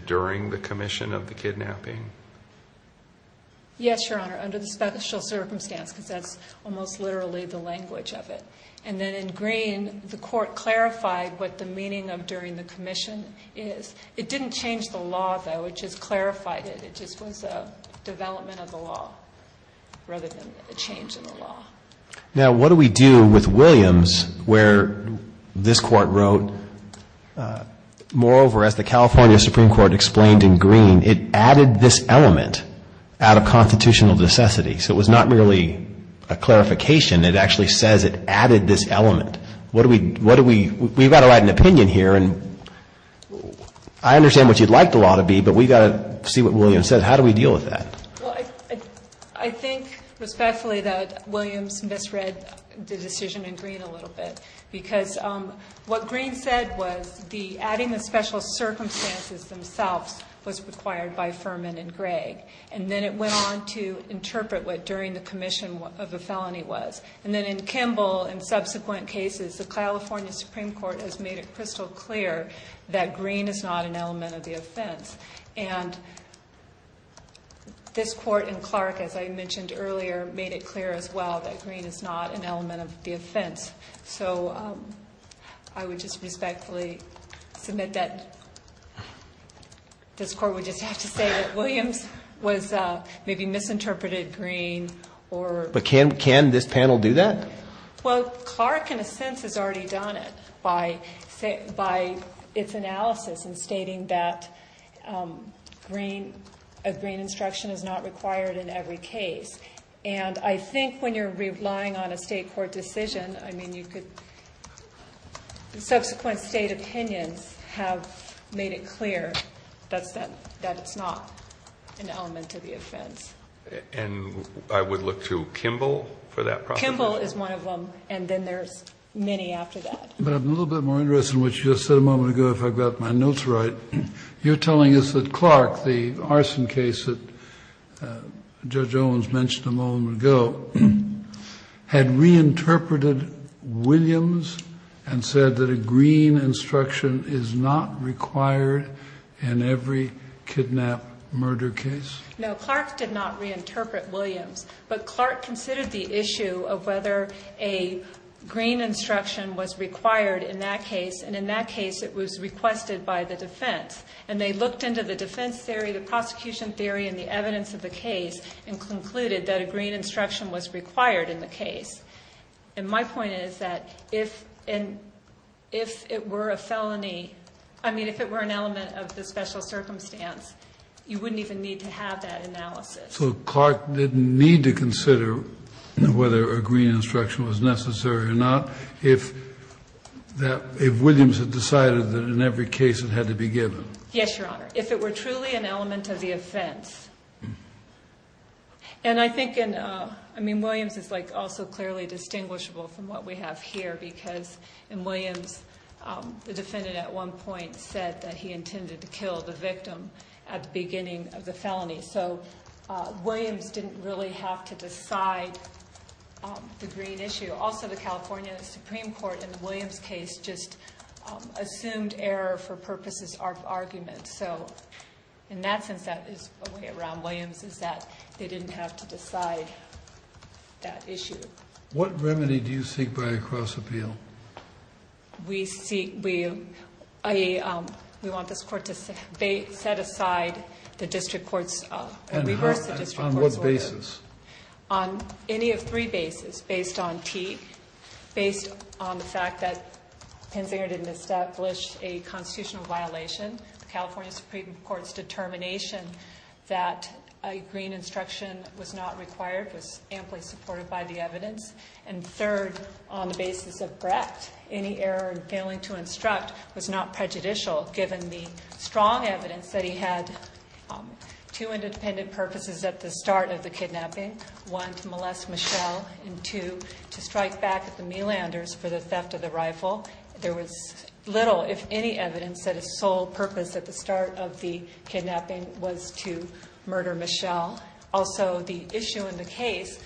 during the commission of the kidnapping? Yes, Your Honor. Under the special circumstance, because that's almost literally the language of it. And then in Green, the court clarified what the meaning of during the commission is. It didn't change the law, though. It just clarified it. It just was a development of the law rather than a change in the law. Now, what do we do with Williams where this court wrote, moreover, as the California Supreme Court explained in Green, it added this element out of constitutional necessity. So it was not merely a clarification. It actually says it added this element. What do we, what do we, we've got to write an opinion here and I understand what you'd like the law to be, but we've got to see what Williams says. How do we deal with that? Well, I think respectfully that Williams misread the decision in Green a little bit because what Green said was the adding the special circumstances themselves was required by Furman and Greg. And then it went on to interpret what during the commission of the felony was. And then in Kimball and subsequent cases, the California Supreme Court has made it crystal clear that Green is not an element of the offense. And this court in Clark, as I mentioned earlier, made it clear as well that Green is not an element of the offense. So I would just respectfully submit that this court would just have to say that Williams was maybe misinterpreted Green or. But can, can this panel do that? Well, Clark in a sense has already done it by say, by its analysis and stating that Green of Green instruction is not required in every case. And I think when you're relying on a state court decision, I mean, you could subsequent state opinions have made it clear. That's that, that it's not an element of the offense. And I would look to Kimball for that. Kimball is one of them. And then there's many after that, but I'm a little bit more interested in what you just said a moment ago. If I've got my notes, right, you're telling us that Clark, the arson case that judge Owens mentioned a moment ago, had reinterpreted Williams and said that a Green instruction is not required in every kidnap murder case. No, Clark did not reinterpret Williams, but Clark considered the issue of whether a Green instruction was required in that case. And in that case it was requested by the defense and they looked into the defense theory, the prosecution theory and the evidence of the case and concluded that a Green instruction was required in the case. And my point is that if, and if it were a felony, I mean, if it were an element of the special circumstance, you wouldn't even need to have that analysis. So Clark didn't need to consider whether a Green instruction was necessary or not. If that, if Williams had decided that in every case it had to be given. Yes, Your Honor. If it were truly an element of the offense. And I think in, I mean, Williams is like also clearly distinguishable from what we have here because in Williams, the defendant at one point said that he intended to kill the victim at the beginning of the felony. So Williams didn't really have to decide the Green issue. Also the California Supreme court in the Williams case just assumed error for purposes of argument. So in that sense, that is a way around Williams is that they didn't have to decide that issue. What remedy do you seek by a cross appeal? We seek, we, I, we want this court to set aside the district courts. On what basis? On any of three bases based on T based on the fact that Penzinger didn't establish a constitutional violation. The California Supreme court's determination that a green instruction was not required, was amply supported by the evidence. And third, on the basis of Brett, any error in failing to instruct was not prejudicial. Given the strong evidence that he had two independent purposes at the start of the kidnapping, one to molest Michelle and two to strike back at the me landers for the theft of the rifle. There was little, if any evidence that his sole purpose at the start of the kidnapping was to murder Michelle. Also the issue in the case,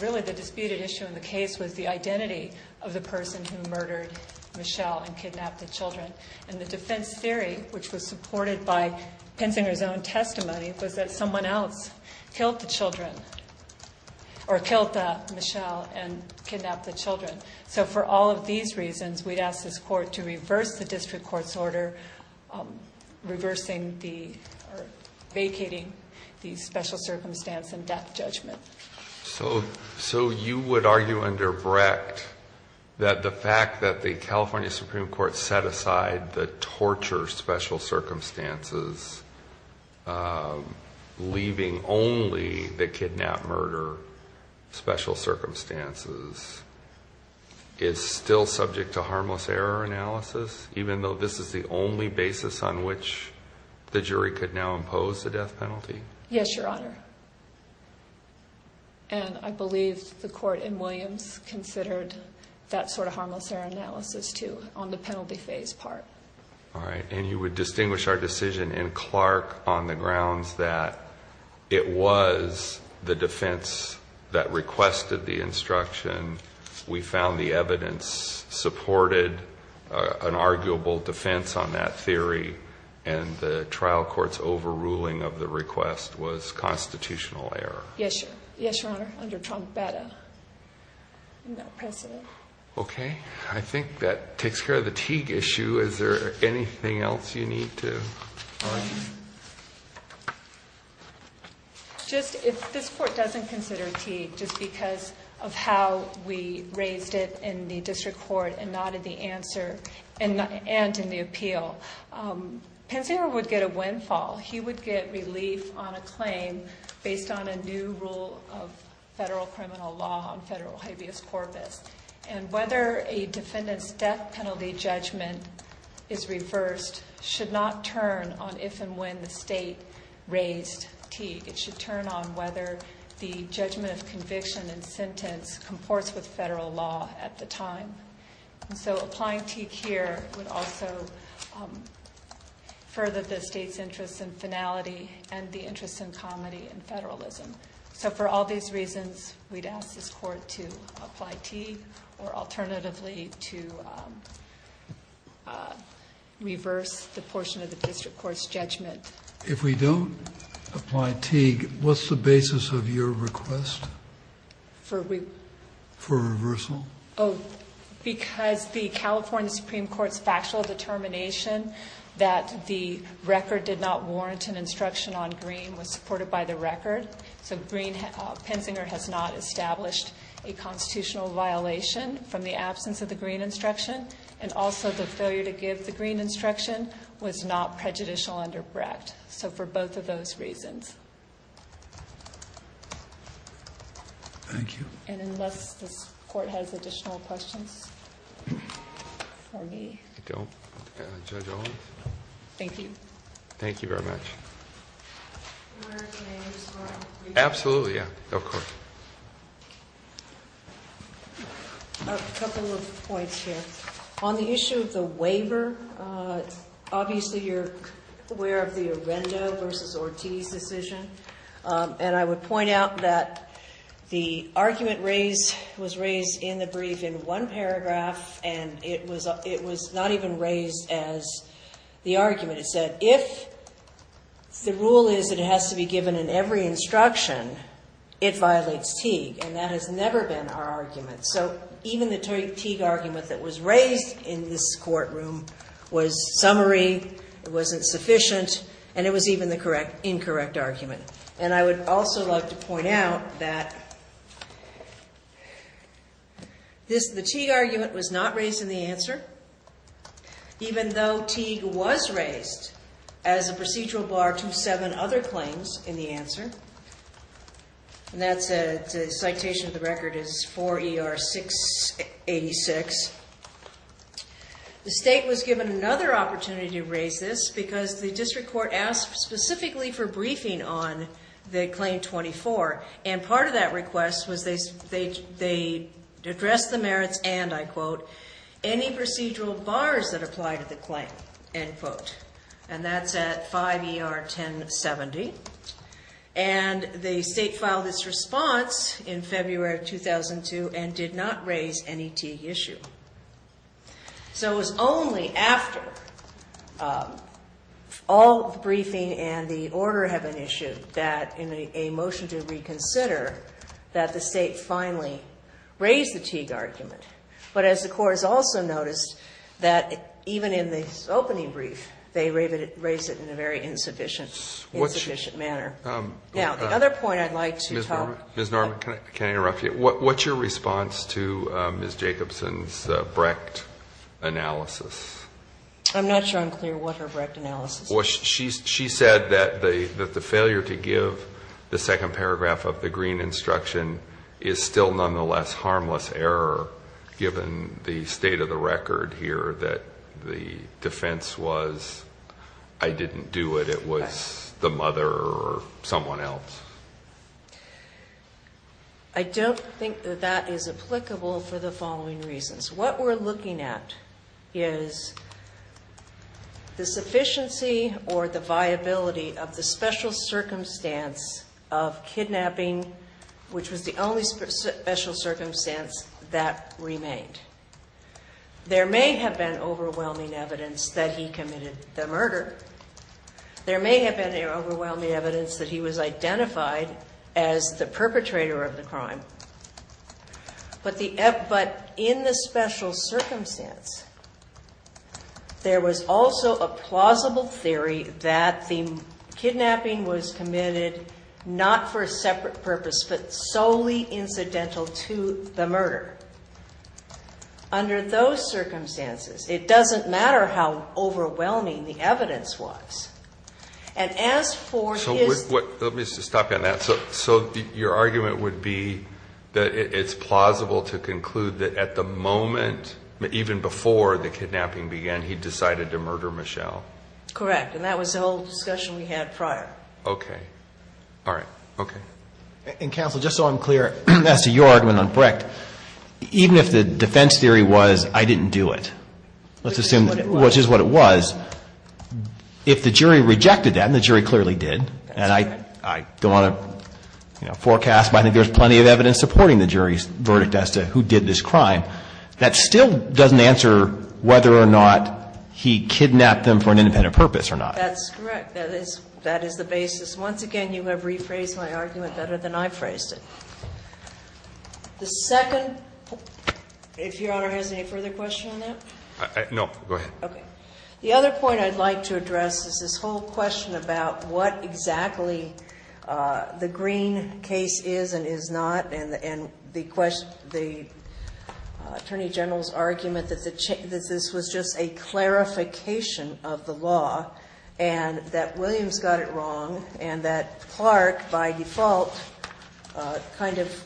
really the disputed issue in the case was the identity of the person who murdered Michelle and kidnapped the children. And the defense theory, which was supported by Penzinger's own testimony, was that someone else killed the children or killed Michelle and kidnapped the children. So for all of these reasons, we'd ask this court to reverse the district court's order, um, reversing the vacating the special circumstance and death judgment. So, so you would argue under Brecht that the fact that the California Supreme court set aside the torture special circumstances, um, leaving only the kidnap murder, special circumstances, it's still subject to harmless error analysis, even though this is the only basis on which the jury could now impose the death penalty. Yes, your honor. And I believe the court in Williams considered that sort of harmless analysis too on the penalty phase part. All right. And you would distinguish our decision in Clark on the grounds that it was the defense that requested the instruction. We found the evidence supported, uh, an arguable defense on that theory and the trial court's overruling of the request was constitutional error. Yes, yes, your honor. Under Trump better. No precedent. Okay. I think that takes care of the TIG issue. Is there anything else you need to just, if this court doesn't consider T just because of how we raised it in the district court and not in the answer and not, and in the appeal, um, pensioner would get a windfall. He would get relief on a claim based on a new rule of federal criminal law on federal habeas corpus and whether a defendant's death penalty judgment is reversed, should not turn on if and when the state raised T, it should turn on whether the judgment of conviction and sentence comports with federal law at the time. And so applying T care would also, um, further the state's interest in finality and the interest in comedy and federalism. So for all these reasons, we'd ask this court to apply T or alternatively to, um, uh, reverse the portion of the district court's judgment. If we don't apply T, what's the basis of your request for, for reversal? Oh, because the California Supreme court's factual determination that the record did not warrant an instruction on green was supported by the record. So green, uh, pensioner has not established a constitutional violation from the absence of the green instruction. And also the failure to give the green instruction was not prejudicial under Brecht. So for both of those reasons, thank you. And unless this court has additional questions for me, thank you. Thank you very much. Absolutely. Yeah, of course. A couple of points here on the issue of the waiver. Uh, obviously you're aware of the Arenda versus Ortiz decision. Um, and I would point out that the argument raised was raised in the brief in one paragraph. And it was, it was not even raised as the argument. It said, if the rule is that it has to be given in every instruction, it violates Teague. And that has never been our argument. So even the Teague argument that was raised in this courtroom was summary. It wasn't sufficient. And it was even the correct, incorrect argument. And I would also love to point out that this, the Teague argument was not raised in the answer, even though Teague was raised as a procedural bar to seven other claims in the answer. And that's a citation. The record is 4 ER 6 86. The state was given another opportunity to raise this because the district court asked specifically for briefing on the claim 24. And part of that request was they, they, they addressed the merits and I quote, any procedural bars that apply to the claim end quote. And that's at 5 ER 10 70. And the state filed this response in February, 2002 and did not raise any Teague issue. So it was only after all the briefing and the order have an issue that in a motion to reconsider that the state finally raised the Teague argument. But as the court has also noticed that even in the opening brief, they raised it in a very insufficient, insufficient manner. Now, the other point I'd like to talk. Ms. Norman, can I interrupt you? What's your response to Ms. Jacobson's Brecht analysis? I'm not sure I'm clear what her Brecht analysis was. She said that the, that the failure to give the second paragraph of the green instruction is still nonetheless, harmless error given the state of the record here, that the defense was, I didn't do it. It was the mother or someone else. I don't think that that is applicable for the following reasons. What we're looking at is the sufficiency or the viability of the special circumstance of kidnapping, which was the only special circumstance that remained. There may have been overwhelming evidence that he committed the murder. There may have been an overwhelming evidence that he was identified as the perpetrator of the crime, but the F, but in the special circumstance, there was also a plausible theory that the kidnapping was committed not for a separate purpose, but solely incidental to the murder. Under those circumstances, it doesn't matter how overwhelming the evidence was. And as for his. Let me just stop you on that. So, so your argument would be that it's plausible to conclude that at the moment, even before the kidnapping began, he decided to murder Michelle. Correct. And that was the whole discussion we had prior. Okay. All right. Okay. And counsel, just so I'm clear, that's a yard when I'm correct. Even if the defense theory was, I didn't do it. Let's assume, which is what it was. If the jury rejected that and the jury clearly did, and I, I don't want to forecast, but I think there's plenty of evidence supporting the jury's verdict as to who did this crime. That still doesn't answer whether or not he kidnapped them for an independent purpose or not. That's correct. That is, that is the basis. Once again, you have rephrased my argument better than I phrased it. The second, if Your Honor has any further question on that. No. Go ahead. Okay. The other point I'd like to address is this whole question about what exactly the green case is and is not. And, and the question, the attorney general's argument that the, that this was just a clarification of the law and that Williams got it wrong. And that Clark by default kind of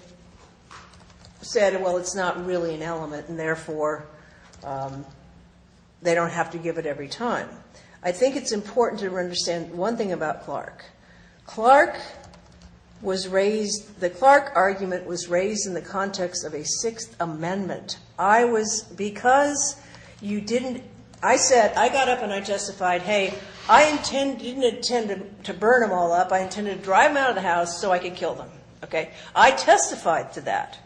said, well, it's not really an element and therefore they don't have to give it every time. I think it's important to understand one thing about Clark. Clark was raised, the Clark argument was raised in the context of a Sixth Amendment. I was, because you didn't, I said, I got up and I justified, hey, I intend, didn't intend to burn them all up. I intended to drive them out of the house so I could kill them. Okay. I testified to that.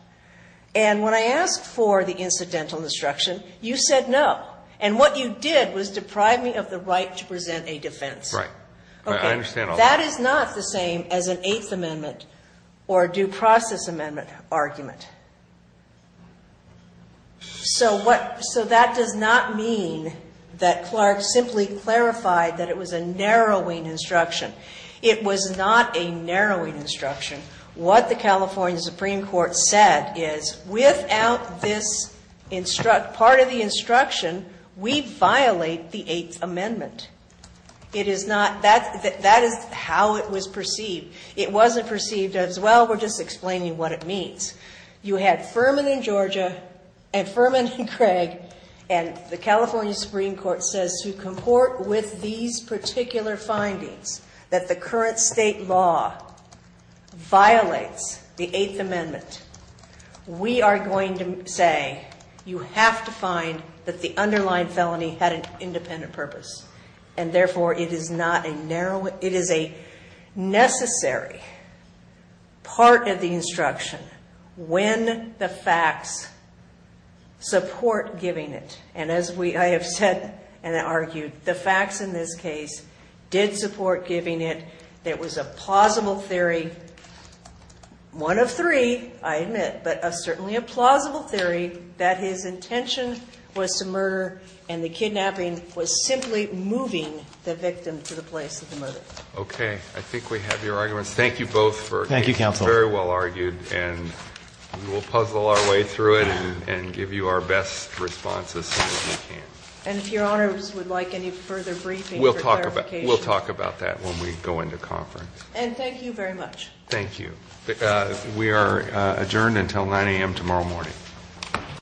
And when I asked for the incidental destruction, you said no. And what you did was deprive me of the right to present a defense. Right. Okay. That is not the same as an Eighth Amendment or due process amendment argument. So what, so that does not mean that Clark simply clarified that it was a narrowing instruction. It was not a narrowing instruction. What the California Supreme court said is without this instruct part of the instruction, we violate the Eighth Amendment. It is not that, that is how it was perceived. It wasn't perceived as, well, we're just explaining what it means. You had Furman in Georgia and Furman and Craig and the California Supreme court says to comport with these particular findings that the current state law violates the Eighth Amendment. We are going to say, you have to find that the underlying felony had an independent purpose. And therefore it is not a narrow, it is a necessary part of the instruction when the facts support giving it. And as we, I have said, and I argued the facts in this case did support giving it. That was a plausible theory. One of three, I admit, but a certainly a plausible theory that his intention was to murder and the moving the victim to the place of the murder. Okay. I think we have your arguments. Thank you both for very well argued and we'll puzzle our way through it and give you our best responses. And if your honors would like any further briefing, we'll talk about, we'll talk about that when we go into conference. And thank you very much. Thank you. We are adjourned until 9am tomorrow morning.